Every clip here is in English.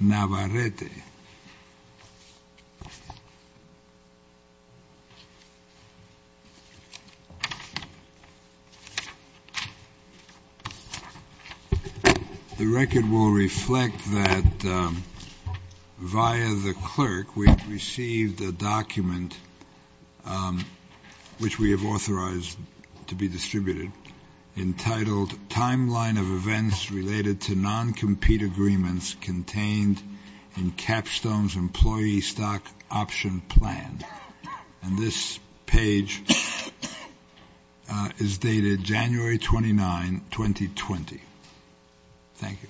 Navarrete. The record will reflect that via the clerk we have received a document which we have authorized to be distributed entitled, Timeline of Events Related to Non-Compete Agreements Contained in Capstone's Employee Stock Option Plan, and this page is dated January 29, 2020. Thank you.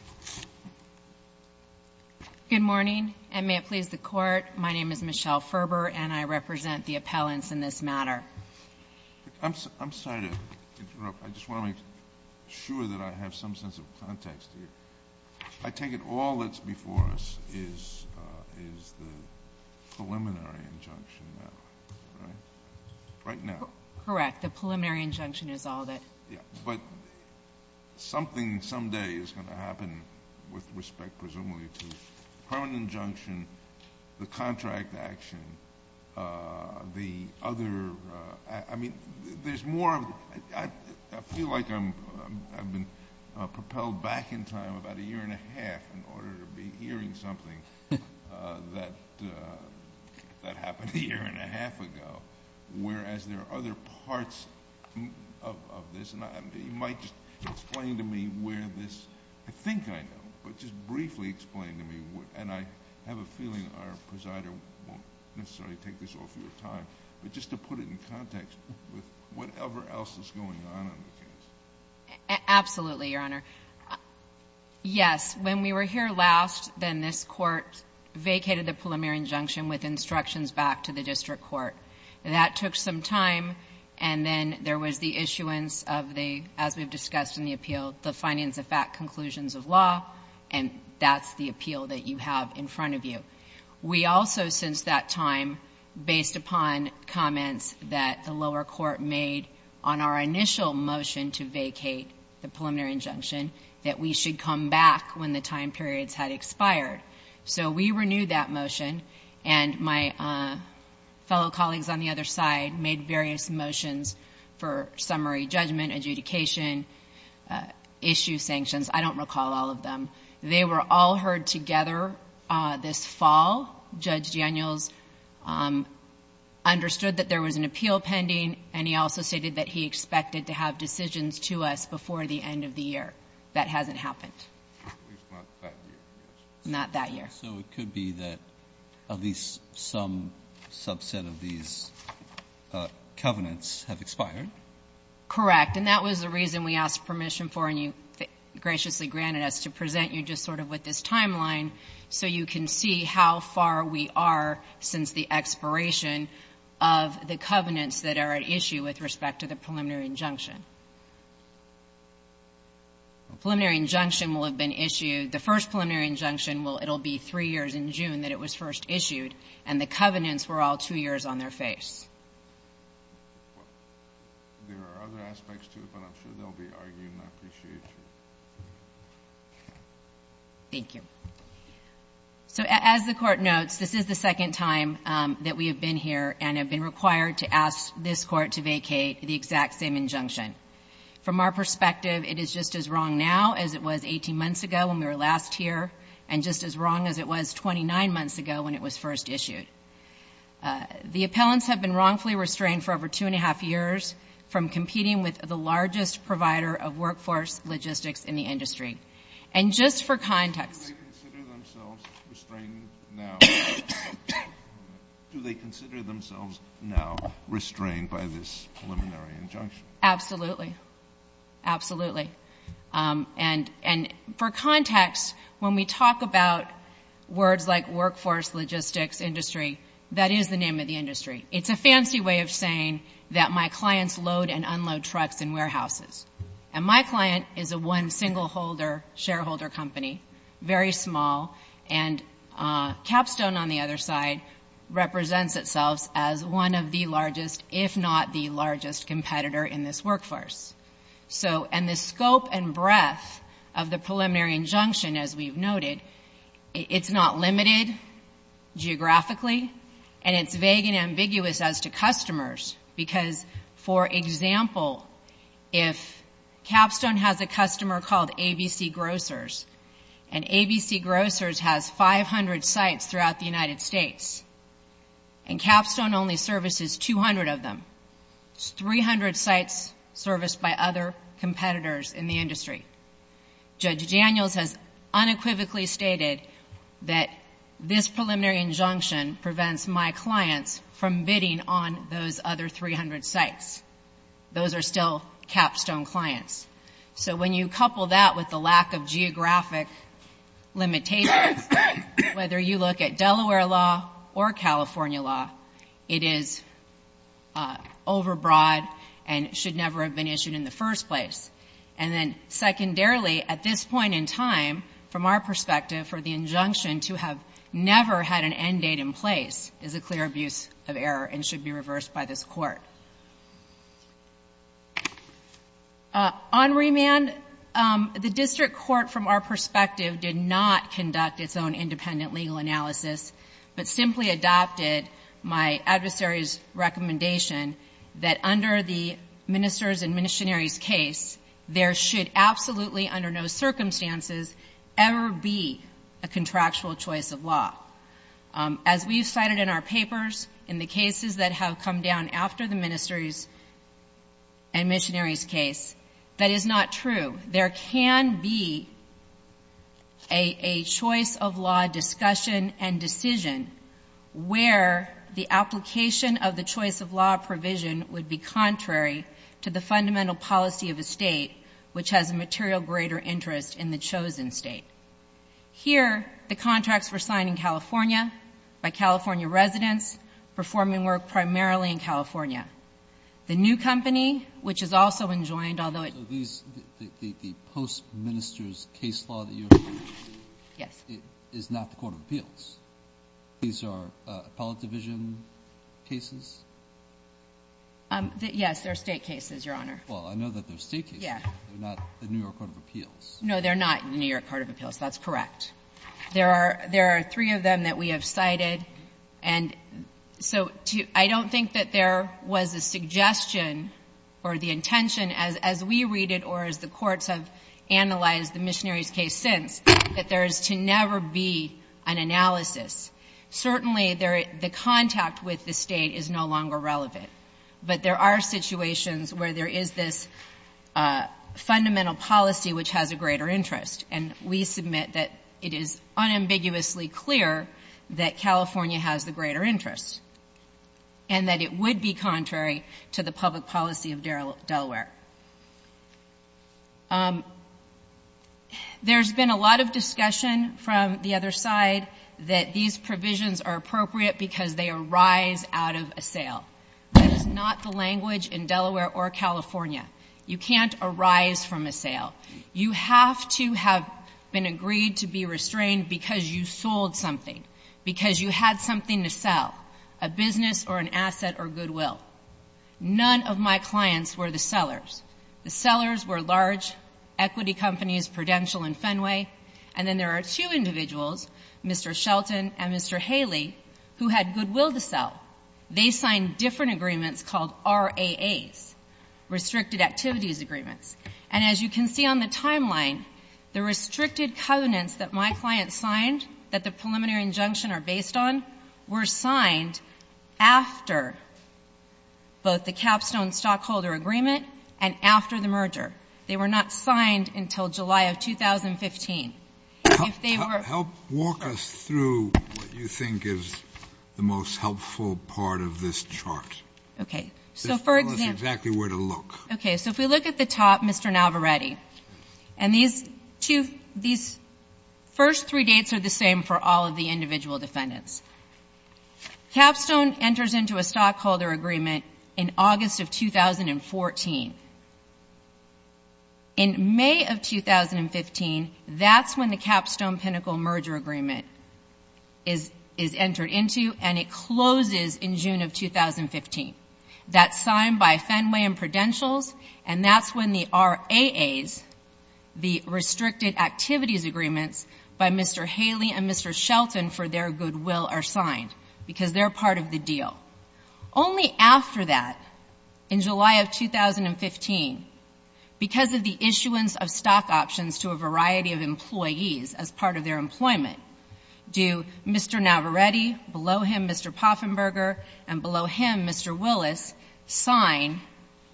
Good morning, and may it please the Court, my name is Michelle Ferber, and I represent the appellants in this matter. I'm sorry to interrupt, I just want to make sure that I have some sense of context here. I take it all that's before us is the preliminary injunction now, right? Right now? Correct. The preliminary injunction is all that... Yeah, but something someday is going to happen with respect, presumably, to permanent injunction, the contract action, the other... I mean, there's more... I feel like I've been propelled back in time about a year and a half in order to be hearing something that happened a year and a half ago, whereas there are other parts of this, and you might just explain to me where this... I think I know, but just briefly explain to me, and I have a feeling our presider won't necessarily take this all for your time, but just to put it in context with whatever else is going on in the case. Absolutely, Your Honor. Yes, when we were here last, then this court vacated the preliminary injunction with instructions back to the district court. That took some time, and then there was the issuance of the, as we've discussed in the appeal, the finance of fact conclusions of law, and that's the appeal that you have in front of you. We also, since that time, based upon comments that the lower court made on our initial motion to vacate the preliminary injunction, that we should come back when the time periods had expired. We renewed that motion, and my fellow colleagues on the other side made various motions for summary judgment, adjudication, issue sanctions. I don't recall all of them. They were all heard together this fall. Judge Daniels understood that there was an appeal pending, and he also stated that he had made those motions to us before the end of the year. That hasn't happened. Not that year. So it could be that at least some subset of these covenants have expired? Correct. And that was the reason we asked permission for, and you graciously granted us, to present you just sort of with this timeline so you can see how far we are since the expiration of the covenants that are at issue with respect to the preliminary injunction. The preliminary injunction will have been issued. The first preliminary injunction, it will be three years in June that it was first issued, and the covenants were all two years on their face. There are other aspects to it, but I'm sure they'll be argued, and I appreciate you. Thank you. So as the Court notes, this is the second time that we have been here and have been From our perspective, it is just as wrong now as it was 18 months ago when we were last here, and just as wrong as it was 29 months ago when it was first issued. The appellants have been wrongfully restrained for over two and a half years from competing with the largest provider of workforce logistics in the industry. And just for context— Do they consider themselves restrained now? Do they consider themselves now restrained by this preliminary injunction? Absolutely. Absolutely. And for context, when we talk about words like workforce logistics industry, that is the name of the industry. It's a fancy way of saying that my clients load and unload trucks and warehouses. And my client is a one single shareholder company, very small, and Capstone on the other side represents itself as one of the largest, if not the largest, competitor in this workforce. And the scope and breadth of the preliminary injunction, as we've noted, it's not limited geographically, and it's vague and ambiguous as to customers because, for example, if Capstone has a customer called ABC Grocers, and ABC Grocers has 500 sites throughout the United States, and Capstone only services 200 of them, it's 300 sites serviced by other competitors in the industry, Judge Daniels has unequivocally stated that this preliminary injunction prevents my clients from bidding on those other 300 sites. Those are still Capstone clients. So when you couple that with the lack of geographic limitations, whether you look at Delaware law or California law, it is overbroad and should never have been issued in the first place. And then secondarily, at this point in time, from our perspective, for the injunction to have never had an end date in place is a clear abuse of error and should be reversed by this court. On remand, the district court, from our perspective, did not conduct its own independent legal analysis but simply adopted my adversary's recommendation that under the Minister's and Missionary's case, there should absolutely, under no circumstances, ever be a contractual choice of law. As we've cited in our papers, in the cases that have come down after the Minister's and Missionary's case, that is not true. There can be a choice of law discussion and decision where the application of the choice of law provision would be contrary to the fundamental policy of a state which has a material greater interest in the chosen state. Here, the contracts were signed in California by California residents performing work primarily in California. The new company, which has also enjoined, although it was the post-Minister's case law that you're referring to is not the court of appeals. These are appellate division cases? Yes, they're state cases, Your Honor. Well, I know that they're state cases. They're not the New York court of appeals. No, they're not in the New York court of appeals. That's correct. There are three of them that we have cited. And so I don't think that there was a suggestion or the intention, as we read it or as the courts have analyzed the Missionary's case since, that there is to never be an analysis. Certainly, the contact with the state is no longer relevant. But there are situations where there is this fundamental policy which has a greater interest. And we submit that it is unambiguously clear that California has the greater interest and that it would be contrary to the public policy of Delaware. There's been a lot of discussion from the other side that these provisions are not the language in Delaware or California. You can't arise from a sale. You have to have been agreed to be restrained because you sold something, because you had something to sell, a business or an asset or goodwill. None of my clients were the sellers. The sellers were large equity companies, Prudential and Fenway. And then there are two individuals, Mr. Shelton and Mr. Haley, who had goodwill to sell. They signed different agreements called RAAs, Restricted Activities Agreements. And as you can see on the timeline, the restricted covenants that my client signed, that the preliminary injunction are based on, were signed after both the capstone stockholder agreement and after the merger. They were not signed until July of 2015. If they were- Help walk us through what you think is the most helpful part of this chart. Okay. So for example- Just tell us exactly where to look. Okay, so if we look at the top, Mr. Navarretti. And these first three dates are the same for all of the individual defendants. Capstone enters into a stockholder agreement in August of 2014. In May of 2015, that's when the capstone pinnacle merger agreement is entered into. And it closes in June of 2015. That's signed by Fenway and Prudentials. And that's when the RAAs, the Restricted Activities Agreements, by Mr. Haley and Mr. Shelton for their goodwill are signed because they're part of the deal. Only after that, in July of 2015, because of the issuance of stock options to a variety of employees as part of their employment, do Mr. Navarretti, below him Mr. Poffenberger, and below him Mr. Willis, sign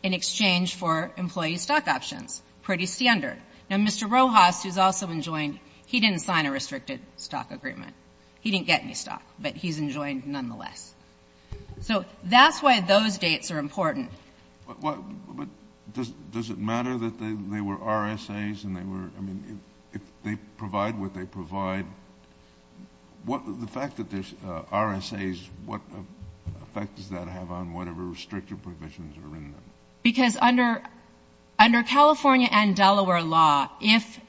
in exchange for employee stock options. Pretty standard. Now Mr. Rojas, who's also enjoined, he didn't sign a restricted stock agreement. He didn't get any stock, but he's enjoined nonetheless. So that's why those dates are important. But does it matter that they were RSAs and they were, I mean, if they provide what they provide, the fact that there's RSAs, what effect does that have on whatever restricted provisions are in them? Because under California and Delaware law, if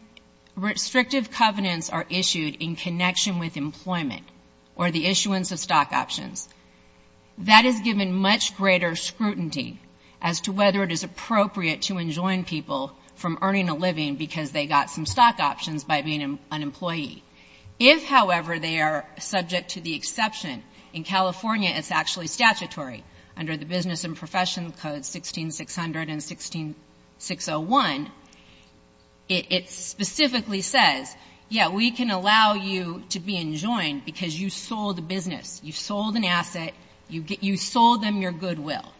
restrictive covenants are issued in connection with employment or the issuance of stock options, that is given much greater scrutiny as to whether it is appropriate to enjoin people from earning a living because they got some stock options by being an employee. If, however, they are subject to the exception, in California it's actually statutory under the because you sold a business, you sold an asset, you sold them your goodwill.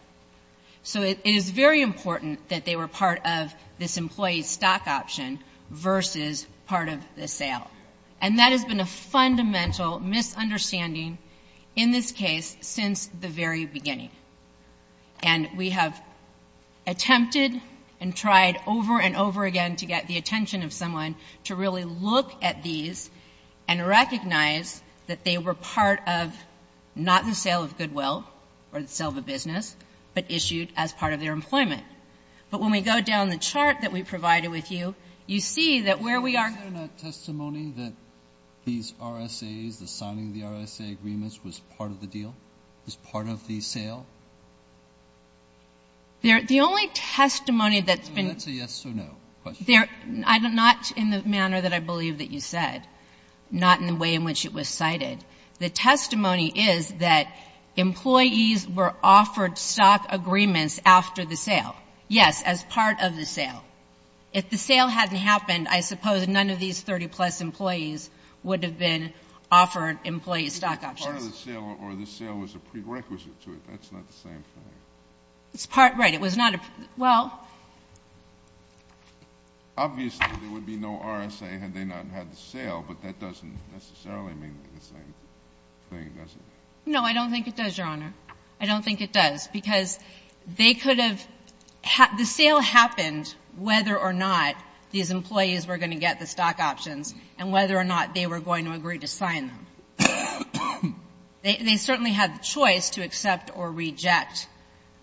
So it is very important that they were part of this employee stock option versus part of the sale. And that has been a fundamental misunderstanding in this case since the very beginning. And we have attempted and tried over and over again to get the attention of someone to really look at these and recognize that they were part of not the sale of goodwill or the sale of a business, but issued as part of their employment. But when we go down the chart that we provided with you, you see that where we are. Breyer, is there not testimony that these RSAs, the signing of the RSA agreements was part of the deal, was part of the sale? They're the only testimony that's been. That's a yes or no question. Not in the manner that I believe that you said. Not in the way in which it was cited. The testimony is that employees were offered stock agreements after the sale. Yes, as part of the sale. If the sale hadn't happened, I suppose none of these 30-plus employees would have been offered employee stock options. Part of the sale or the sale was a prerequisite to it. That's not the same thing. It's part. Right. It was not. Well. Obviously, there would be no RSA had they not had the sale, but that doesn't necessarily mean the same thing, does it? No, I don't think it does, Your Honor. I don't think it does. Because they could have the sale happened whether or not these employees were going to get the stock options and whether or not they were going to agree to sign them. They certainly had the choice to accept or reject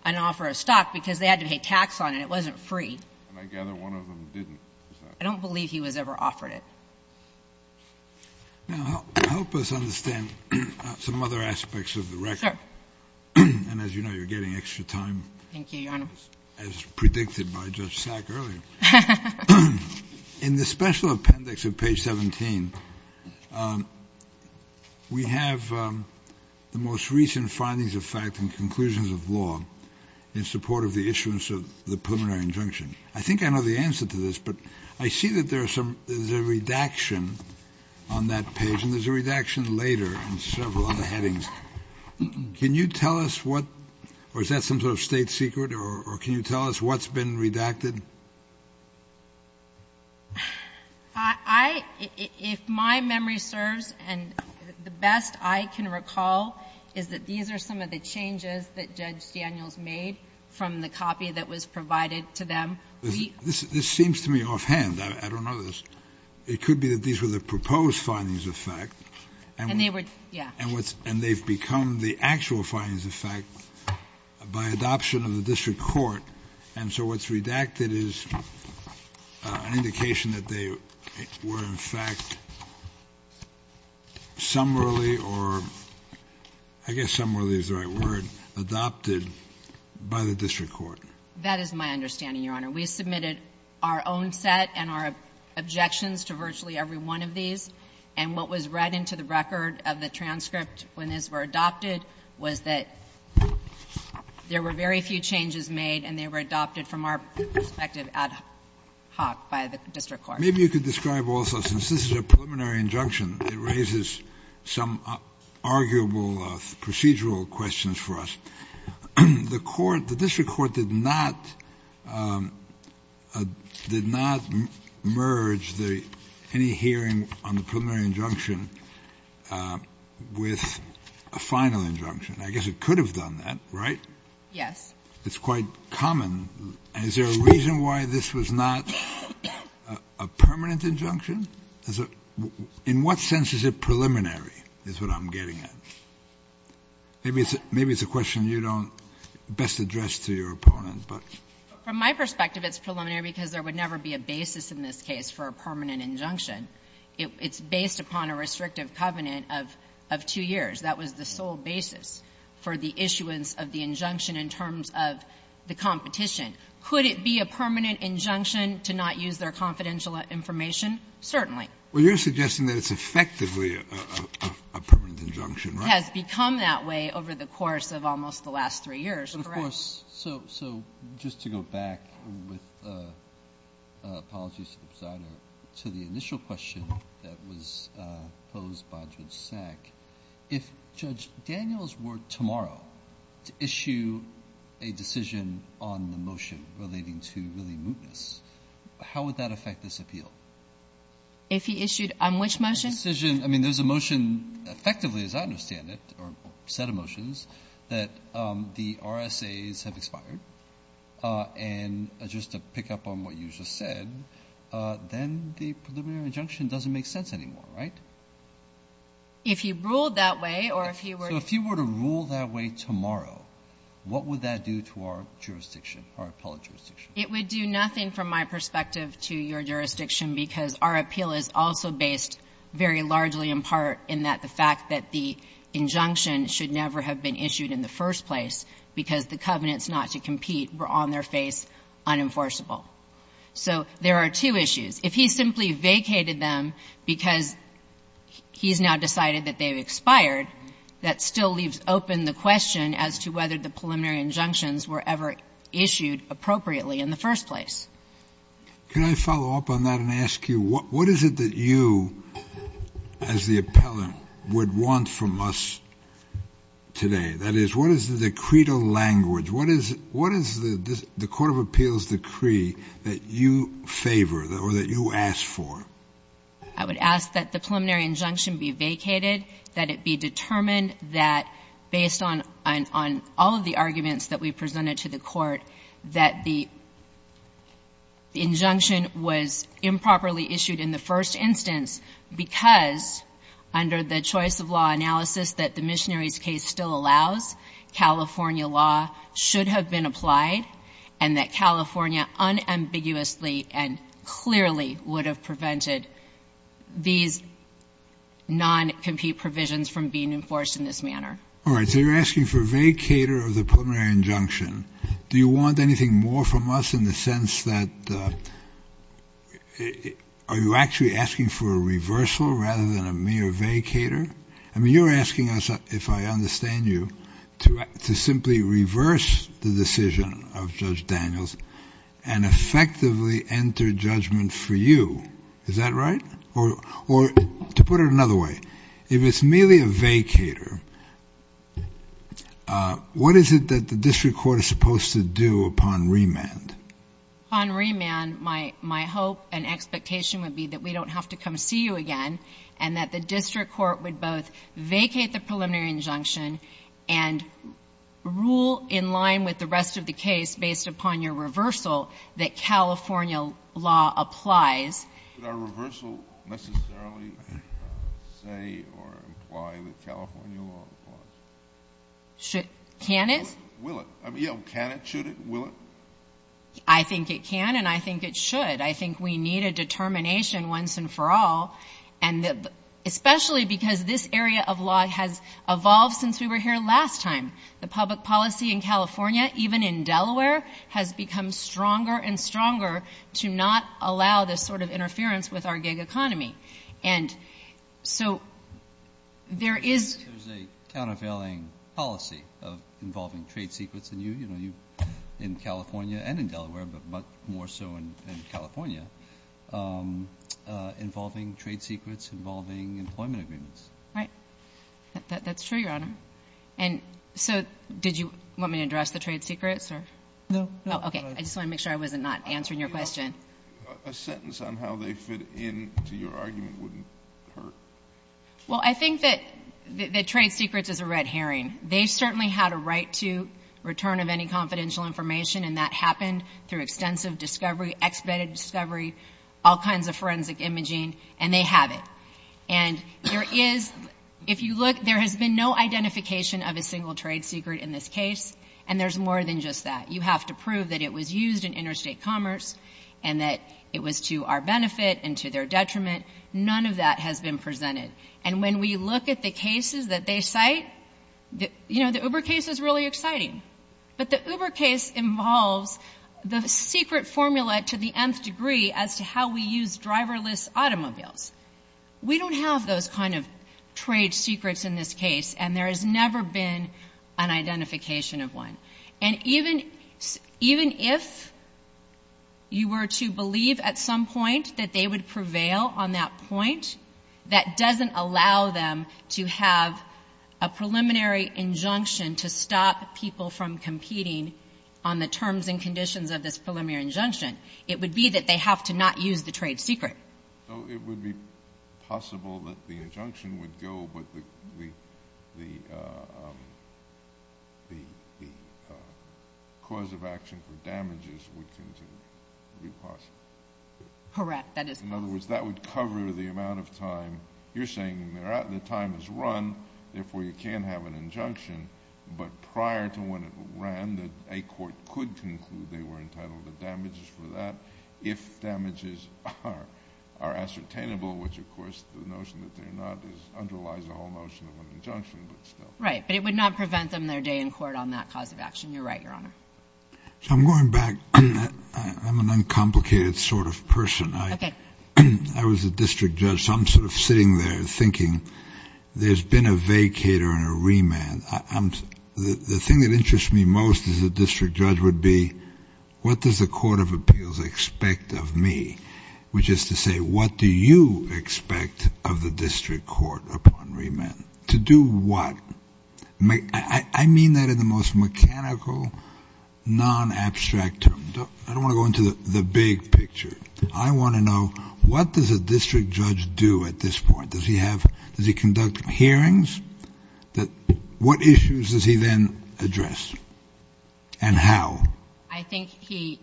an offer of stock because they had to pay tax on it. It wasn't free. And I gather one of them didn't. I don't believe he was ever offered it. Now, help us understand some other aspects of the record. And as you know, you're getting extra time. Thank you, Your Honor. As predicted by Judge Sack earlier. In the special appendix of page 17, we have the most recent findings of fact and conclusions of law in support of the issuance of the preliminary injunction. I think I know the answer to this. But I see that there's a redaction on that page. And there's a redaction later in several other headings. Can you tell us what or is that some sort of state secret? Or can you tell us what's been redacted? If my memory serves and the best I can recall is that these are some of the changes that Judge Daniels made from the copy that was provided to them. This seems to me offhand. I don't know this. It could be that these were the proposed findings of fact. And they've become the actual findings of fact by adoption of the district court. And so what's redacted is an indication that they were in fact summarily or I guess summarily is the right word, adopted by the district court. That is my understanding, Your Honor. We submitted our own set and our objections to virtually every one of these. And what was read into the record of the transcript when these were adopted was that there were very few changes made and they were adopted from our perspective ad hoc by the district court. Maybe you could describe also, since this is a preliminary injunction, it raises some arguable procedural questions for us. The district court did not merge any hearing on the preliminary injunction with a final injunction. I guess it could have done that, right? Yes. It's quite common. Is there a reason why this was not a permanent injunction? Is it — in what sense is it preliminary is what I'm getting at? Maybe it's a question you don't best address to your opponent, but — From my perspective, it's preliminary because there would never be a basis in this case for a permanent injunction. It's based upon a restrictive covenant of two years. That was the sole basis for the issuance of the injunction in terms of the competition. Could it be a permanent injunction to not use their confidential information? Certainly. Well, you're suggesting that it's effectively a permanent injunction, right? It has become that way over the course of almost the last three years, correct? But of course — so just to go back with — apologies to the presider — to the initial question that was posed by Judge Sack, if Judge Daniels were tomorrow to issue a decision on the motion relating to really mootness, how would that affect this appeal? If he issued on which motion? A decision — I mean, there's a motion effectively, as I understand it, or set of motions, that the RSAs have expired. And just to pick up on what you just said, then the preliminary injunction doesn't make sense anymore, right? If he ruled that way or if he were — So if he were to rule that way tomorrow, what would that do to our jurisdiction, our appellate jurisdiction? It would do nothing from my perspective to your jurisdiction because our appeal is also based very largely in part in that the fact that the injunction should never have been issued in the first place because the covenants not to compete were on their face unenforceable. So there are two issues. If he simply vacated them because he's now decided that they've expired, that still leaves open the question as to whether the preliminary injunctions were ever issued appropriately in the first place. Can I follow up on that and ask you, what is it that you, as the appellant, would want from us today? That is, what is the decretal language? What is — what is the court of appeals decree that you favor or that you ask for? I would ask that the preliminary injunction be vacated, that it be determined that based on all of the arguments that we presented to the court, that the injunction was improperly issued in the first instance because under the choice of law analysis that the Missionaries case still allows, California law should have been applied and that California unambiguously and clearly would have prevented these non-compete provisions from being enforced in this manner. All right. So you're asking for a vacater of the preliminary injunction. Do you want anything more from us in the sense that — are you actually asking for a reversal rather than a mere vacater? I mean, you're asking us, if I understand you, to simply reverse the decision of Judge Daniels and effectively enter judgment for you. Is that right? Or to put it another way, if it's merely a vacater, what is it that the district court is supposed to do upon remand? Upon remand, my hope and expectation would be that we don't have to come see you again and that the district court would both vacate the preliminary injunction and rule in line with the rest of the case based upon your reversal that California law applies. Could our reversal necessarily say or imply that California law applies? Can it? Will it? I mean, can it? Should it? Will it? I think it can and I think it should. I think we need a determination once and for all, especially because this area of law has evolved since we were here last time. The public policy in California, even in Delaware, has become stronger and stronger to not allow this sort of interference with our gig economy. And so, there is— There's a countervailing policy involving trade secrets in you, you know, in California and in Delaware, but much more so in California, involving trade secrets, involving employment agreements. Right. That's true, Your Honor. And so, did you want me to address the trade secrets or— No, no. Okay. I just want to make sure I wasn't not answering your question. A sentence on how they fit into your argument wouldn't hurt. Well, I think that trade secrets is a red herring. They certainly had a right to return of any confidential information, and that happened through extensive discovery, expedited discovery, all kinds of forensic imaging, and they have it. And there is— If you look, there has been no identification of a single trade secret in this case, and there's more than just that. You have to prove that it was used in interstate commerce and that it was to our benefit and to their detriment. None of that has been presented. And when we look at the cases that they cite, you know, the Uber case is really exciting. But the Uber case involves the secret formula to the nth degree as to how we use driverless automobiles. We don't have those kind of trade secrets in this case, and there has never been an identification of one. And even if you were to believe at some point that they would prevail on that point, that doesn't allow them to have a preliminary injunction to stop people from competing on the terms and conditions of this preliminary injunction. It would be that they have to not use the trade secret. So it would be possible that the injunction would go, but the cause of action for damages would continue. It would be possible. Correct. That is possible. In other words, that would cover the amount of time—you're saying the time is run, therefore you can't have an injunction. But prior to when it ran, a court could conclude they were entitled to damages for that if damages are ascertainable, which, of course, the notion that they're not underlies the whole notion of an injunction, but still. Right. But it would not prevent them their day in court on that cause of action. You're right, Your Honor. So I'm going back. I'm an uncomplicated sort of person. I was a district judge, so I'm sort of sitting there thinking, there's been a vacater and a remand. of me, which is to say, what do you expect of the district court upon remand? To do what? I mean that in the most mechanical, non-abstract term. I don't want to go into the big picture. I want to know, what does a district judge do at this point? Does he have—does he conduct hearings? What issues does he then address? And how? I think he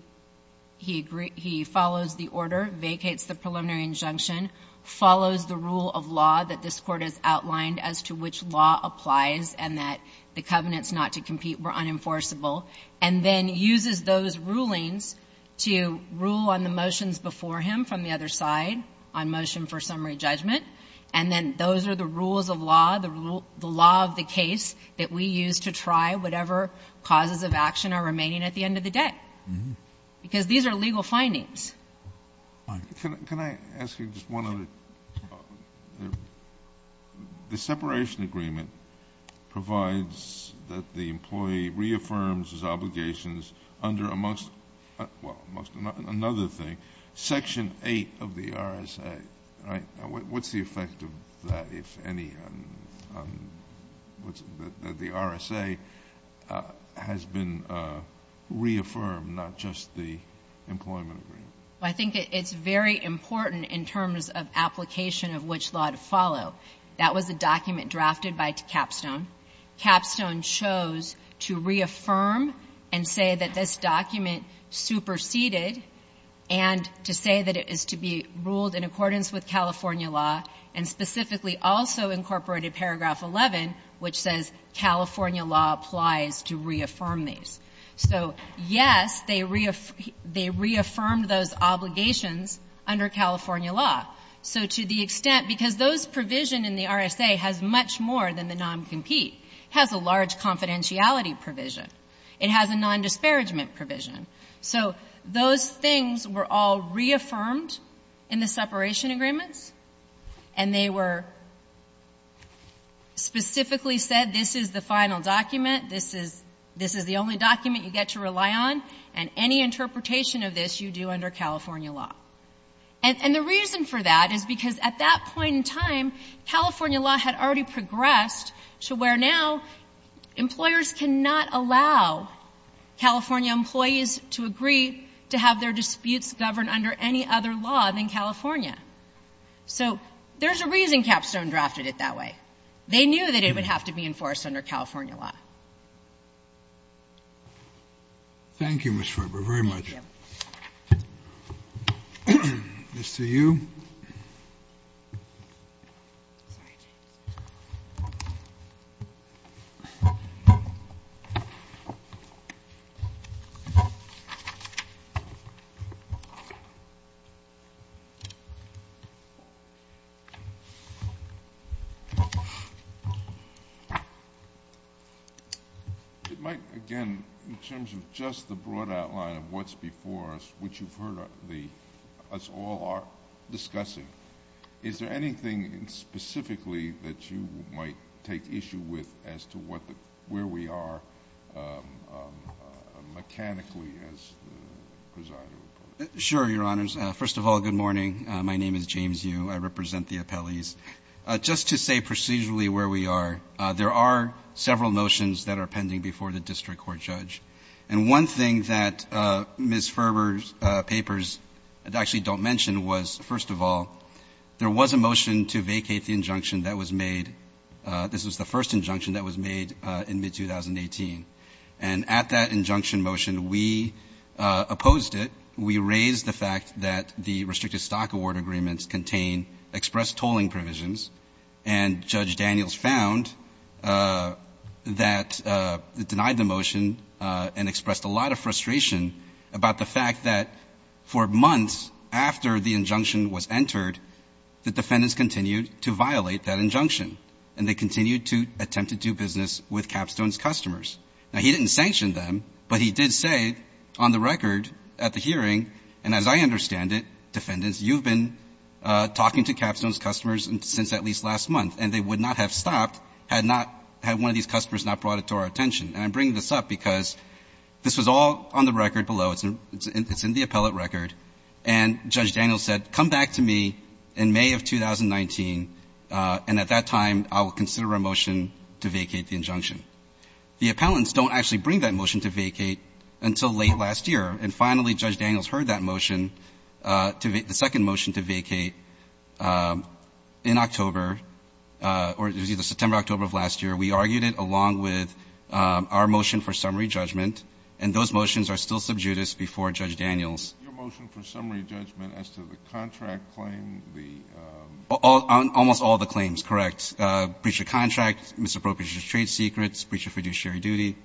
follows the order, vacates the preliminary injunction, follows the rule of law that this Court has outlined as to which law applies and that the covenants not to compete were unenforceable, and then uses those rulings to rule on the motions before him from the other side on motion for summary judgment. And then those are the rules of law, the law of the case that we use to try whatever causes of action are remaining at the end of the day. Because these are legal findings. Can I ask you just one other—the separation agreement provides that the employee reaffirms his obligations under amongst—well, another thing, Section 8 of the RSA, right? What's the effect of that, if any? The RSA has been reaffirmed, not just the employment agreement. I think it's very important in terms of application of which law to follow. That was a document drafted by Capstone. Capstone chose to reaffirm and say that this document superseded and to say that it is to be ruled in accordance with California law, and specifically also incorporated Paragraph 11, which says California law applies to reaffirm these. So, yes, they reaffirmed those obligations under California law. So to the extent—because those provision in the RSA has much more than the noncompete. It has a large confidentiality provision. It has a nondisparagement provision. So those things were all reaffirmed in the separation agreements, and they were specifically said, this is the final document, this is the only document you get to rely on, and any interpretation of this you do under California law. And the reason for that is because at that point in time, California law had already progressed to where now employers cannot allow California employees to agree to have their disputes governed under any other law than California. So there's a reason Capstone drafted it that way. They knew that it would have to be enforced under California law. Thank you, Ms. Ferber, very much. This to you. It might, again, in terms of just the broad outline of what's before us, which you've heard us all are discussing, is there anything specifically that you might take issue with as to where we are mechanically as the presiding appellee? Sure, Your Honors. First of all, good morning. My name is James Yu. I represent the appellees. Just to say procedurally where we are, there are several motions that are pending before the district court judge. And one thing that Ms. Ferber's papers actually don't mention was, first of all, there was a motion to vacate the injunction that was made. This was the first injunction that was made in mid-2018. And at that injunction motion, we opposed it. We raised the fact that the restricted stock award agreements contain expressed tolling provisions. And Judge Daniels found that, denied the motion and expressed a lot of frustration about the fact that for months after the injunction was entered, the defendants continued to violate that injunction. And they continued to attempt to do business with Capstone's customers. Now, he didn't sanction them, but he did say on the record at the hearing, and as I understand it, defendants, you've been talking to Capstone's customers since at least last month. And they would not have stopped had one of these customers not brought it to our attention. And I'm bringing this up because this was all on the record below. It's in the appellate record. And Judge Daniels said, come back to me in May of 2019. And at that time, I will consider a motion to vacate the injunction. The appellants don't actually bring that motion to vacate until late last year. And finally, Judge Daniels heard that motion, the second motion to vacate in October or it was either September, October of last year. We argued it along with our motion for summary judgment. And those motions are still sub judice before Judge Daniels. Your motion for summary judgment as to the contract claim, the Almost all the claims, correct. Breach of contract, misappropriation of trade secrets, breach of fiduciary duty.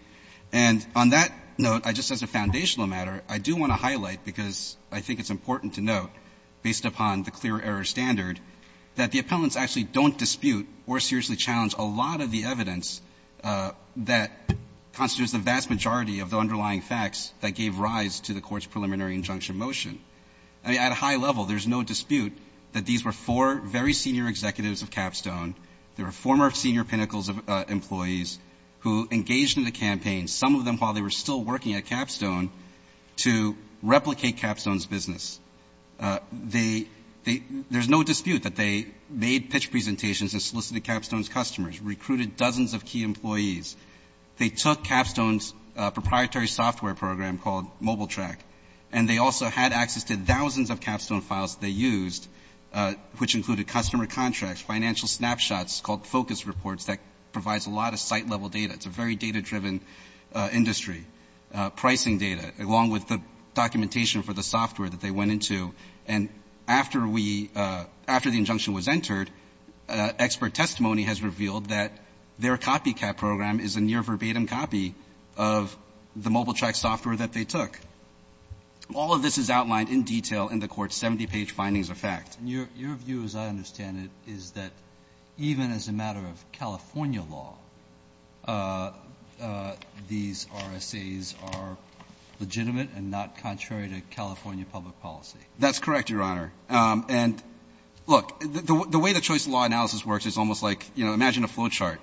And on that note, just as a foundational matter, I do want to highlight, because I think it's important to note, based upon the clear error standard, that the appellants actually don't dispute or seriously challenge a lot of the evidence that constitutes the vast majority of the underlying facts that gave rise to the Court's preliminary injunction motion. I mean, at a high level, there's no dispute that these were four very senior executives of Capstone. They were former senior Pinnacles employees who engaged in the campaign, some of them while they were still working at Capstone, to replicate Capstone's business. There's no dispute that they made pitch presentations and solicited Capstone's customers, recruited dozens of key employees. They took Capstone's proprietary software program called MobileTrack, and they also had access to thousands of Capstone files that they used, which included customer contracts, financial snapshots, called focus reports, that provides a lot of site-level data. It's a very data-driven industry. Pricing data, along with the documentation for the software that they went into. And after we – after the injunction was entered, expert testimony has revealed that their copycat program is a near-verbatim copy of the MobileTrack software that they took. All of this is outlined in detail in the Court's 70-page findings of fact. Your view, as I understand it, is that even as a matter of California law, these RSAs are legitimate and not contrary to California public policy. That's correct, Your Honor. And look, the way the choice of law analysis works is almost like, you know, imagine a flowchart.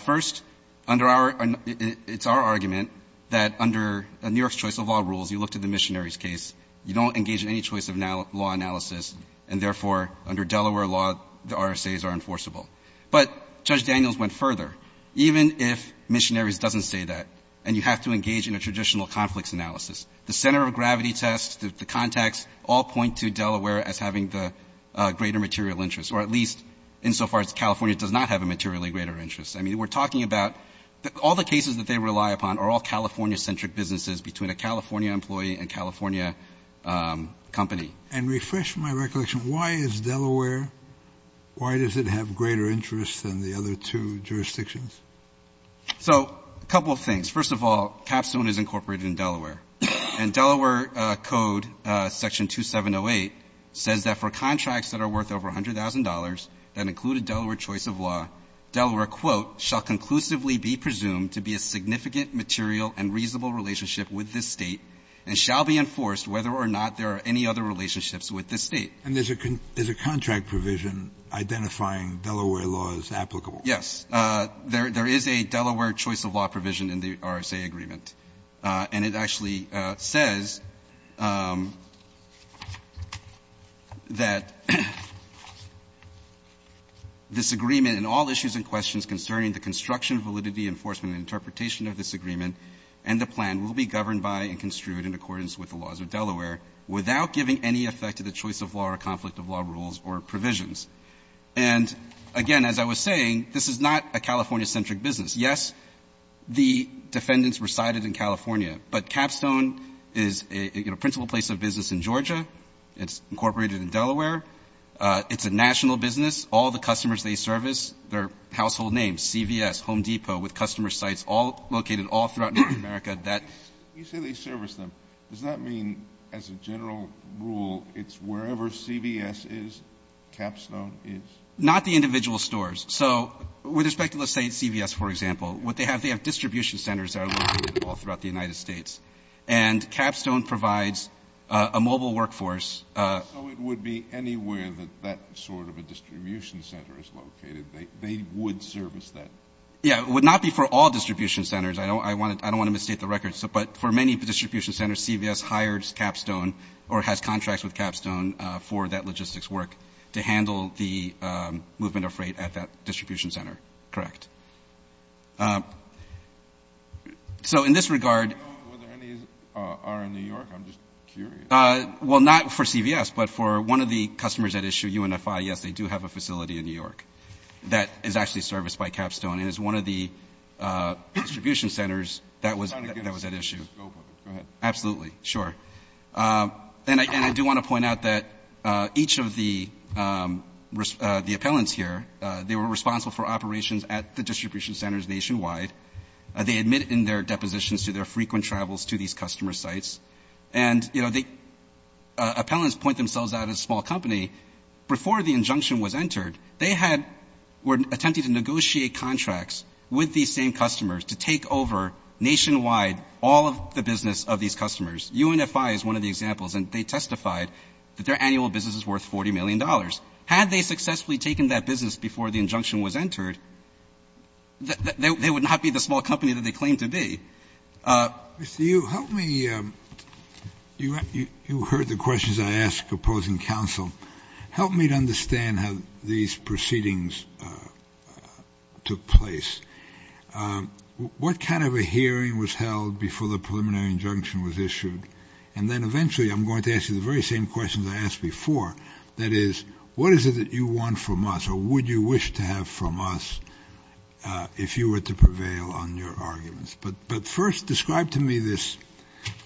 First, under our – it's our argument that under New York's choice of law rules, you looked at the Missionaries case. You don't engage in any choice of law analysis, and therefore, under Delaware law, the RSAs are enforceable. But Judge Daniels went further. Even if Missionaries doesn't say that, and you have to engage in a traditional conflicts analysis, the center of gravity test, the contacts, all point to Delaware as having the greater material interest. Or at least, insofar as California does not have a materially greater interest. I mean, we're talking about – all the cases that they rely upon are all California- company. And refresh my recollection. Why is Delaware – why does it have greater interest than the other two jurisdictions? So, a couple of things. First of all, Capstone is incorporated in Delaware. And Delaware Code Section 2708 says that for contracts that are worth over $100,000 that include a Delaware choice of law, Delaware, quote, And there's a – there's a contract provision identifying Delaware laws applicable. Yes. There is a Delaware choice of law provision in the RSA agreement. And it actually says that this agreement and all issues and questions concerning the construction, validity, enforcement, and interpretation of this agreement and the plan will be governed by and construed in accordance with the laws of Delaware without giving any effect to the choice of law or conflict of law rules or provisions. And again, as I was saying, this is not a California-centric business. Yes, the defendants resided in California. But Capstone is a principal place of business in Georgia. It's incorporated in Delaware. It's a national business. All the customers they service, their household names, CVS, Home Depot, with customer sites all located all throughout North America, that You say they service them. Does that mean, as a general rule, it's wherever CVS is, Capstone is? Not the individual stores. So, with respect to, let's say, CVS, for example, what they have, they have distribution centers that are located all throughout the United States. And Capstone provides a mobile workforce. So it would be anywhere that that sort of a distribution center is located. They would service that? Yeah, it would not be for all distribution centers. I don't want to misstate the record. But for many distribution centers, CVS hires Capstone or has contracts with Capstone for that logistics work to handle the movement of freight at that distribution center. Correct. So, in this regard I don't know whether any are in New York. I'm just curious. Well, not for CVS, but for one of the customers at issue, UNFI, yes, they do have a facility in New York that is actually serviced by Capstone. And it's one of the distribution centers that was at issue. Just go for it. Go ahead. Absolutely, sure. And I do want to point out that each of the appellants here, they were responsible for operations at the distribution centers nationwide. They admit in their depositions to their frequent travels to these customer sites. And the appellants point themselves out as a small company. Before the injunction was entered, they were attempting to negotiate contracts with these same customers to take over nationwide all of the business of these customers. UNFI is one of the examples. And they testified that their annual business is worth $40 million. Had they successfully taken that business before the injunction was entered, they would not be the small company that they claim to be. Mr. Yu, you heard the questions I asked opposing counsel. Help me to understand how these proceedings took place. What kind of a hearing was held before the preliminary injunction was issued? And then eventually, I'm going to ask you the very same questions I asked before. That is, what is it that you want from us? Or would you wish to have from us if you were to prevail on your arguments? But first, describe to me this.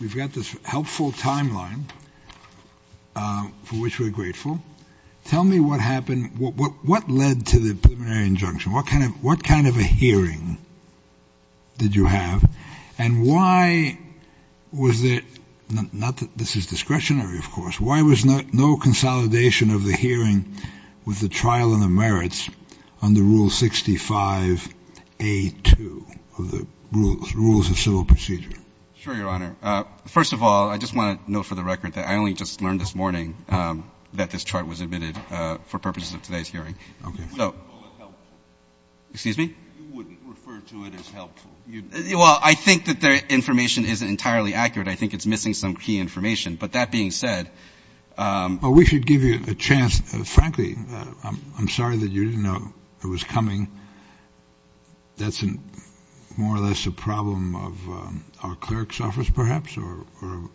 We've got this helpful timeline for which we're grateful. Tell me what happened. What led to the preliminary injunction? What kind of a hearing did you have? And why was it not that this is discretionary, of course, why was not no consolidation of the hearing with the trial and the merits under Rule 65A2 of the Rules of Civil Procedure? Sure, Your Honor. First of all, I just want to note for the record that I only just learned this morning that this chart was admitted for purposes of today's hearing. Okay. Excuse me? You wouldn't refer to it as helpful. Well, I think that their information isn't entirely accurate. I think it's missing some key information. But that being said... Well, we should give you a chance. Frankly, I'm sorry that you didn't know it was coming. That's more or less a problem of our clerk's office, perhaps, or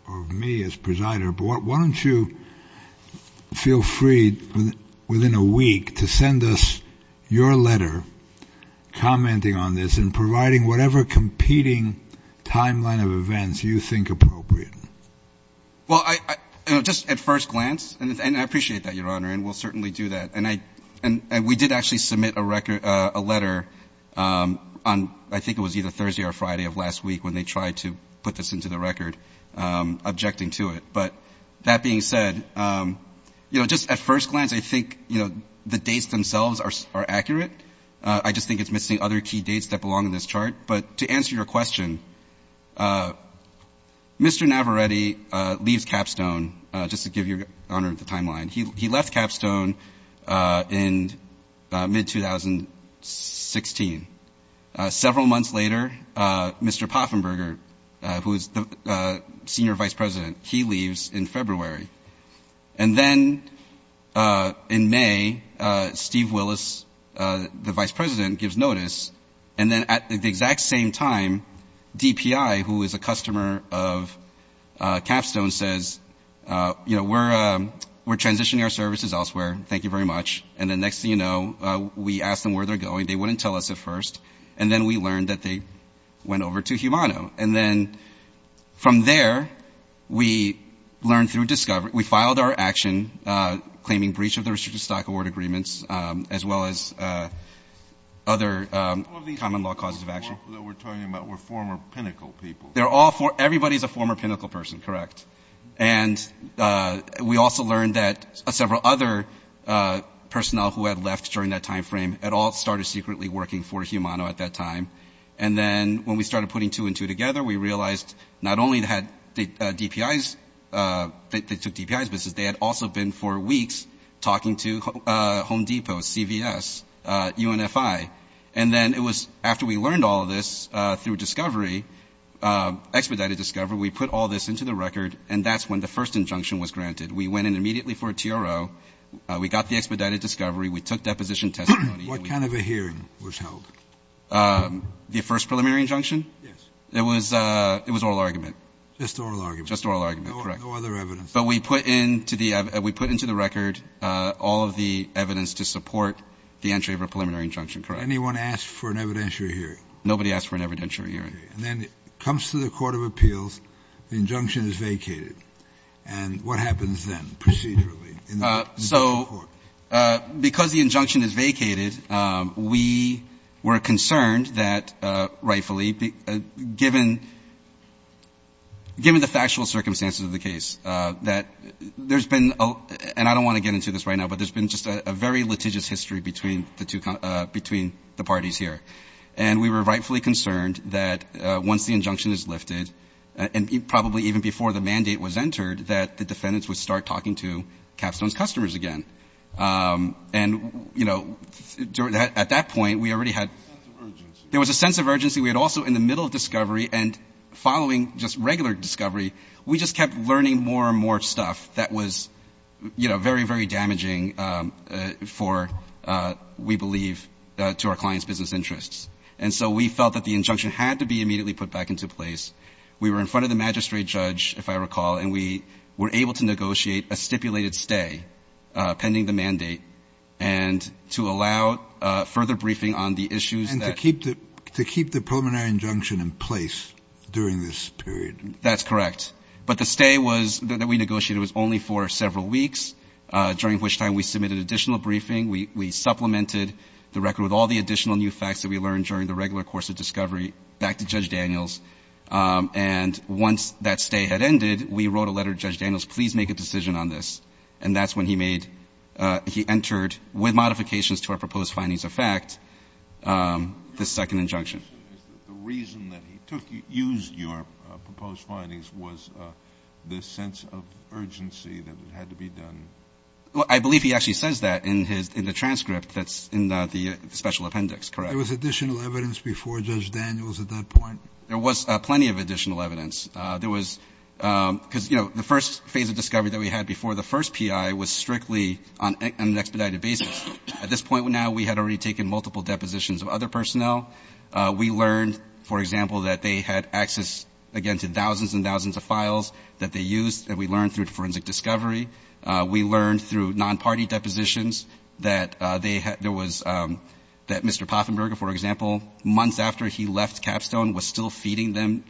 of me as presider. But why don't you feel free within a week to send us your letter commenting on this and providing whatever competing timeline of events you think appropriate. Well, just at first glance, and I appreciate that, Your Honor. We'll certainly do that. We did actually submit a letter on, I think it was either Thursday or Friday of last week, when they tried to put this into the record, objecting to it. But that being said, just at first glance, I think the dates themselves are accurate. I just think it's missing other key dates that belong in this chart. But to answer your question, Mr. Navaretti leaves Capstone, just to give Your Honor the timeline. He left Capstone in mid-2016. Several months later, Mr. Poffenberger, who is the senior vice president, he leaves in February. And then in May, Steve Willis, the vice president, gives notice. And then at the exact same time, DPI, who is a customer of Capstone, says, you know, we're transitioning our services elsewhere. Thank you very much. And the next thing you know, we ask them where they're going. They wouldn't tell us at first. And then we learned that they went over to Humano. And then from there, we learned through discovery. We filed our action, claiming breach of the restricted stock award agreements, as well as other common law causes of action. All of these people that we're talking about were former Pinnacle people. They're all former. Everybody's a former Pinnacle person, correct? And we also learned that several other personnel who had left during that time frame had all started secretly working for Humano at that time. And then when we started putting two and two together, we realized not only they took DPI's business, they had also been for weeks talking to Home Depot, CVS, UNFI. And then it was after we learned all of this through discovery, expedited discovery, we put all this into the record. And that's when the first injunction was granted. We went in immediately for a TRO. We got the expedited discovery. We took deposition testimony. What kind of a hearing was held? The first preliminary injunction? Yes. It was oral argument. Just oral argument. Just oral argument, correct. No other evidence. But we put into the record all of the evidence to support the entry of a preliminary injunction, correct? Anyone asked for an evidentiary hearing? Nobody asked for an evidentiary hearing. And then it comes to the Court of Appeals. The injunction is vacated. And what happens then, procedurally? So because the injunction is vacated, we were concerned that rightfully, given the factual circumstances of the case, that there's been, and I don't want to get into this right now, but there's been just a very litigious history between the parties here. And we were rightfully concerned that once the injunction is lifted, and probably even before the mandate was entered, that the defendants would start talking to Capstone's customers again. And, you know, at that point, we already had... A sense of urgency. There was a sense of urgency. We had also, in the middle of discovery and following just regular discovery, we just kept learning more and more stuff that was, you know, very, very damaging for, we believe, to our clients' business interests. And so we felt that the injunction had to be immediately put back into place. We were in front of the magistrate judge, if I recall, and we were able to negotiate a stipulated stay pending the mandate and to allow further briefing on the issues that... And to keep the preliminary injunction in place during this period. That's correct. But the stay that we negotiated was only for several weeks, during which time we submitted additional briefing. We supplemented the record with all the additional new facts that we learned during the regular course of discovery back to Judge Daniels. And once that stay had ended, we wrote a letter to Judge Daniels, please make a decision on this. And that's when he entered, with modifications to our proposed findings of fact, the second injunction. The reason that he used your proposed findings was the sense of urgency that it had to be done. Well, I believe he actually says that in the transcript that's in the special appendix, correct? There was additional evidence before Judge Daniels at that point? There was plenty of additional evidence. There was, because, you know, the first phase of discovery that we had before the first PI was strictly on an expedited basis. At this point now, we had already taken multiple depositions of other personnel. We learned, for example, that they had access, again, to thousands and thousands of files that they used that we learned through forensic discovery. We learned through non-party depositions that they had, there was, that Mr. Poffenberger, for example, months after he left Capstone was still feeding them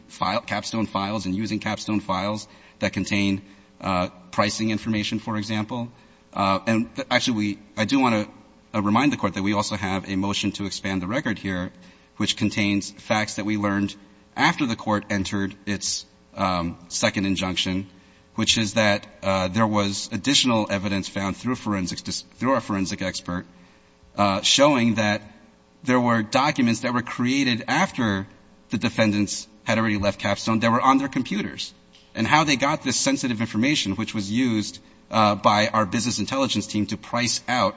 capstone files and using capstone files that contain pricing information, for example. And actually, I do want to remind the Court that we also have a motion to expand the record here which contains facts that we learned after the Court entered its second injunction, which is that there was additional evidence found through forensics, through our forensic expert, showing that there were documents that were created after the defendants had already left Capstone that were on their computers and how they got this sensitive information which was used by our business intelligence team to price out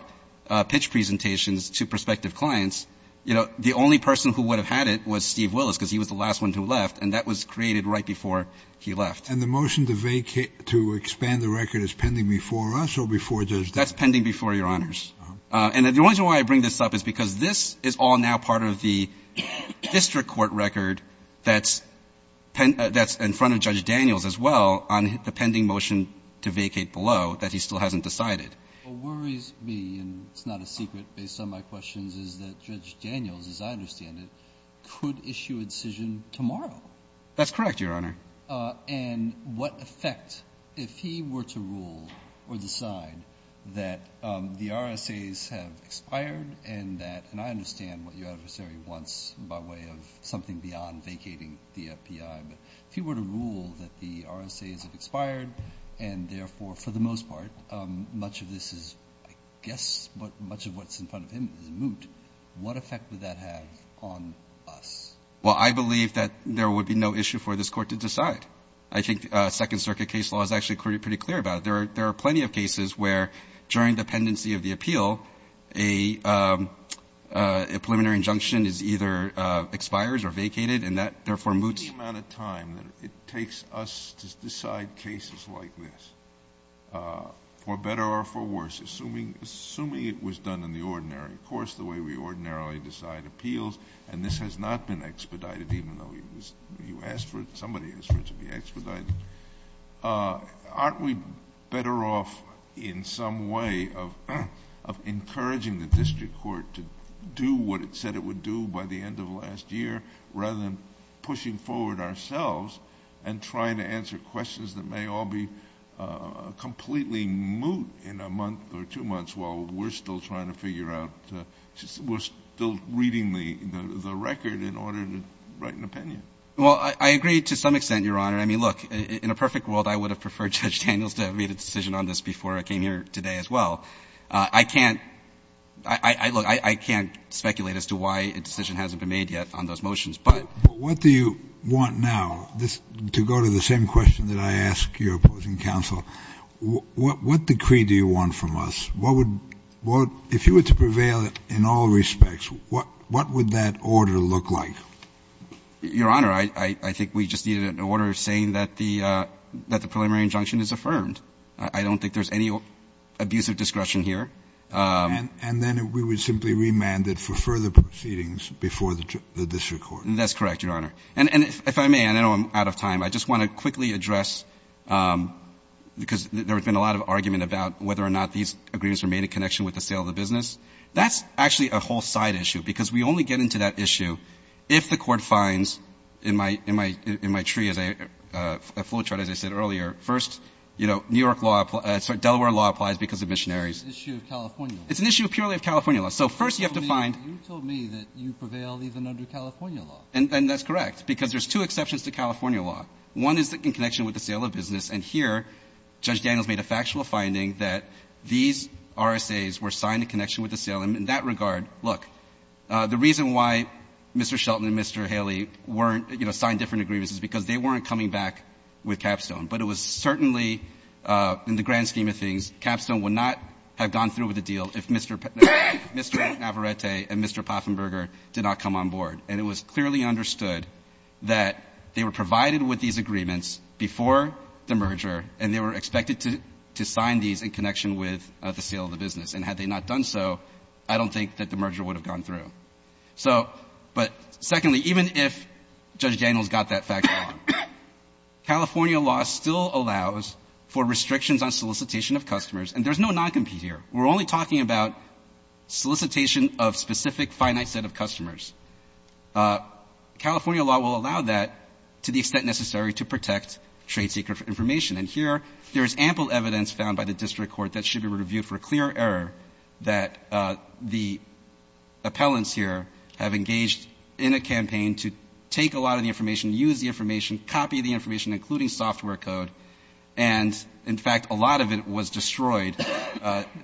pitch presentations to prospective clients. You know, the only person who would have had it was Steve Willis because he was the last one who left and that was created right before he left. And the motion to vacate, to expand the record is pending before us or before Judge Daniels? That's pending before Your Honors. And the only reason why I bring this up is because this is all now part of the district court record that's in front of Judge Daniels as well on the pending motion to vacate below that he still hasn't decided. What worries me, and it's not a secret based on my questions, is that Judge Daniels, as I understand it, could issue a decision tomorrow. That's correct, Your Honor. And what effect, if he were to rule or decide that the RSAs have expired and that, and I understand what your adversary wants by way of something beyond vacating the FBI, but if he were to rule that the RSAs have expired and therefore, for the most part, much of this is, I guess, but much of what's in front of him is moot, what effect would that have on us? Well, I believe that there would be no issue for this court to decide. I think Second Circuit case law is actually pretty clear about it. There are plenty of cases where during the pendency of the appeal, a preliminary injunction is either expires or vacated and that therefore moots. Any amount of time that it takes us to decide cases like this, for better or for worse, assuming it was done in the ordinary course, the way we ordinarily decide appeals, and this has not been expedited, even though you asked for it, somebody asked for it to be expedited, aren't we better off in some way of encouraging the district court to do what it said it would do by the end of last year rather than pushing forward ourselves and trying to answer questions that may all be completely moot in a month or two months while we're still trying to figure out, we're still reading the record in order to write an opinion. Well, I agree to some extent, Your Honor. I mean, look, in a perfect world, I would have preferred Judge Daniels to have made a decision on this before I came here today as well. I can't, look, I can't speculate as to why a decision hasn't been made yet on those motions, but... What do you want now, to go to the same question that I asked your opposing counsel, what decree do you want from us? If you were to prevail in all respects, what would that order look like? Your Honor, I think we just needed an order saying that the preliminary injunction is affirmed. I don't think there's any abusive discretion here. And then we would simply remand it for further proceedings before the district court. That's correct, Your Honor. And if I may, I know I'm out of time, I just want to quickly address, because there has been a lot of argument about whether or not these agreements are made in connection with the sale of the business. That's actually a whole side issue, because we only get into that issue if the court finds, in my tree, as a flowchart, as I said earlier, first, you know, New York law, Delaware law applies because of missionaries. It's an issue of California law. It's an issue purely of California law. So first you have to find... You told me that you prevail even under California law. And that's correct, because there's two exceptions to California law. One is in connection with the sale of business. And here, Judge Daniels made a factual finding that these RSAs were signed in connection with the sale. And in that regard, look, the reason why Mr. Shelton and Mr. Haley weren't, you know, signed different agreements is because they weren't coming back with Capstone. But it was certainly, in the grand scheme of things, Capstone would not have gone through with the deal if Mr. Navarrete and Mr. Poffenberger did not come on board. And it was clearly understood that they were provided with these agreements before the merger, and they were expected to sign these in connection with the sale of the business. And had they not done so, I don't think that the merger would have gone through. So, but secondly, even if Judge Daniels got that fact wrong, California law still allows for restrictions on solicitation of customers. And there's no non-compete here. We're only talking about solicitation of specific finite set of customers. California law will allow that to the extent necessary to protect trade secret information. And here, there is ample evidence found by the district court that should be reviewed for a clear error that the appellants here have engaged in a campaign to take a lot of the information, use the information, copy the information, including software code. And in fact, a lot of it was destroyed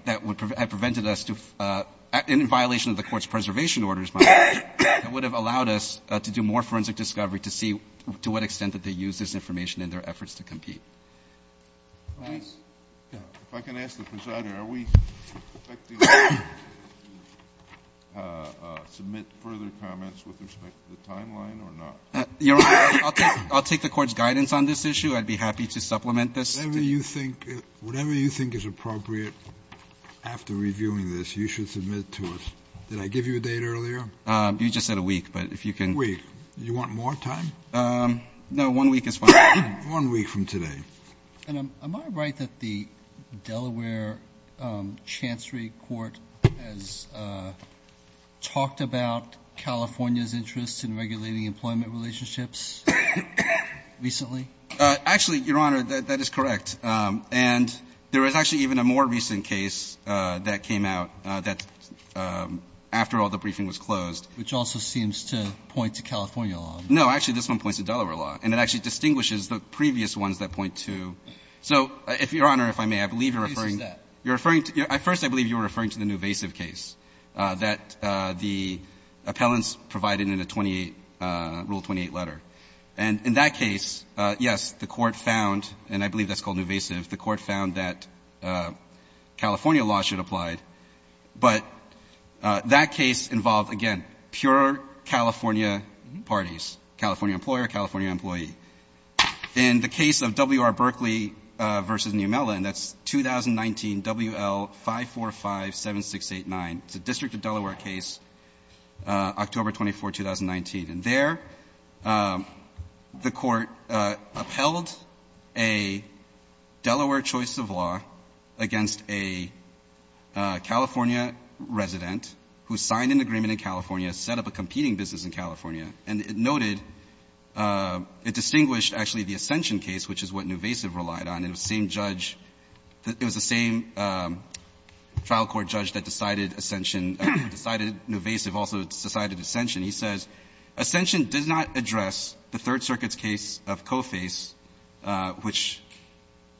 that would have prevented us to, in violation of the court's preservation orders, would have allowed us to do more forensic discovery to see to what extent that they use this information in their efforts to compete. If I can ask the presider, are we expecting to submit further comments with respect to the timeline or not? I'll take the court's guidance on this issue. I'd be happy to supplement this. Whatever you think is appropriate after reviewing this, you should submit to us. Did I give you a date earlier? You just said a week, but if you can... A week. You want more time? No, one week is fine. One week from today. And am I right that the Delaware Chancery Court has talked about California's interests in regulating employment relationships recently? Actually, Your Honor, that is correct. And there was actually even a more recent case that came out that after all the briefing was closed... Which also seems to point to California law. No, actually, this one points to Delaware law, and it actually distinguishes the previous ones that point to... So, Your Honor, if I may, I believe you're referring... What case is that? You're referring to... First, I believe you were referring to the Nuvasiv case that the appellants provided in Rule 28 letter. And in that case, yes, the court found, and I believe that's called Nuvasiv, the court found that California law should apply but that case involved, again, pure California parties, California employer, California employee. In the case of W.R. Berkeley v. New Mellon, that's 2019 W.L. 5457689. It's a District of Delaware case, October 24, 2019. And there, the court upheld a Delaware choice of law against a California resident who signed an agreement in California, set up a competing business in California. And it noted, it distinguished, actually, the Ascension case, which is what Nuvasiv relied on. It was the same judge, it was the same trial court judge that decided Ascension, decided Nuvasiv, also decided Ascension. He says, Ascension does not address the Third Circuit's case of Coface, which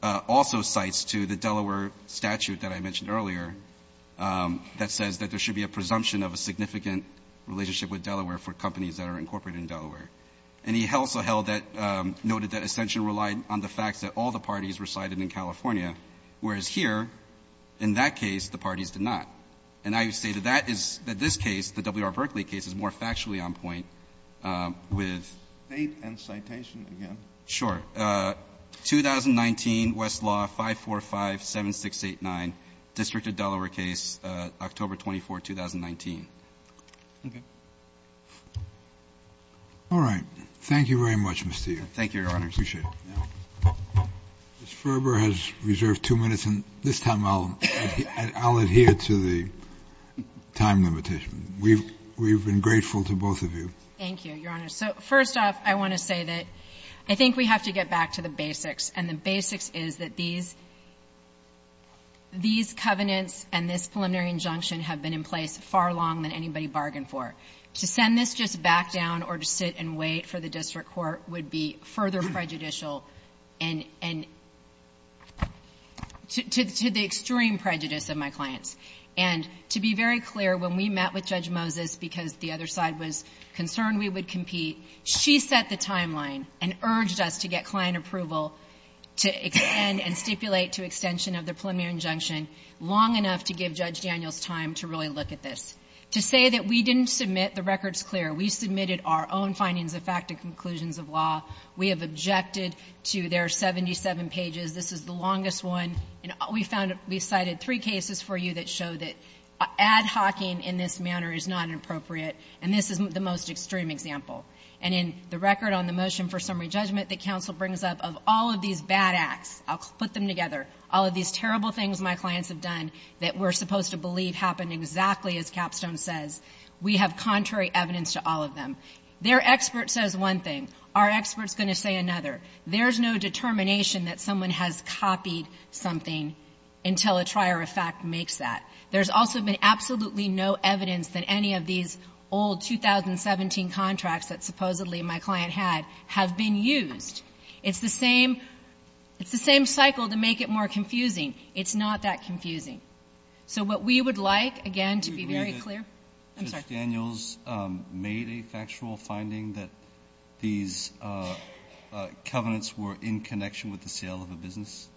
also cites to the Delaware statute that I mentioned earlier that says that there should be a presumption of a significant relationship with Delaware for companies that are incorporated in Delaware. And he also held that, noted that Ascension relied on the facts that all the parties recited in California, whereas here, in that case, the parties did not. And I would say that that is, that this case, the W.R. Berkeley case, is more factually on point with. State and citation again. Sure. 2019 Westlaw 5457689, District of Delaware case, October 24, 2019. All right. Thank you very much, Mr. Yu. Thank you, Your Honor. Appreciate it. Ms. Ferber has reserved two minutes, and this time I'll adhere to the time limitation. We've been grateful to both of you. Thank you, Your Honor. So first off, I want to say that I think we have to get back to the basics. And the basics is that these covenants and this preliminary injunction have been in place far longer than anybody bargained for. To send this just back down or to sit and wait for the district court would be further prejudicial to the extreme prejudice of my clients. And to be very clear, when we met with Judge Moses, because the other side was concerned we would compete, she set the timeline and urged us to get client approval to extend and stipulate to extension of the preliminary injunction long enough to give Judge Daniels time to really look at this. To say that we didn't submit, the record's clear. We submitted our own findings of fact and conclusions of law. We have objected to their 77 pages. This is the longest one. And we found, we cited three cases for you that show that ad hoc-ing in this manner is not inappropriate. And this is the most extreme example. And in the record on the motion for summary judgment that counsel brings up of all of these bad acts, I'll put them together, all of these terrible things my clients have done that we're supposed to believe happened exactly as Capstone says, we have contrary evidence to all of them. Their expert says one thing, our expert's gonna say another. There's no determination that someone has copied something until a trier of fact makes that. There's also been absolutely no evidence that any of these old 2017 contracts that supposedly my client had have been used. It's the same cycle to make it more confusing. It's not that confusing. So what we would like, again, to be very clear. Do you believe that Judge Daniels made a factual finding that these covenants were in connection with the sale of a business?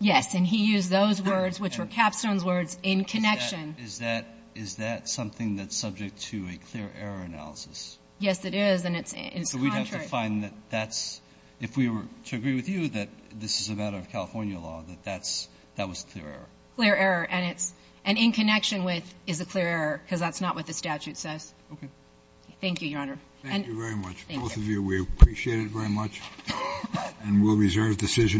Yes, and he used those words, which were Capstone's words, in connection. Is that something that's subject to a clear error analysis? Yes, it is, and it's contrary. So we'd have to find that that's, if we were to agree with you that this is a matter of California law, that that was a clear error. Clear error, and in connection with is a clear error because that's not what the statute says. Okay. Thank you, Your Honor. Thank you very much. Both of you, we appreciate it very much, and we'll reserve decision.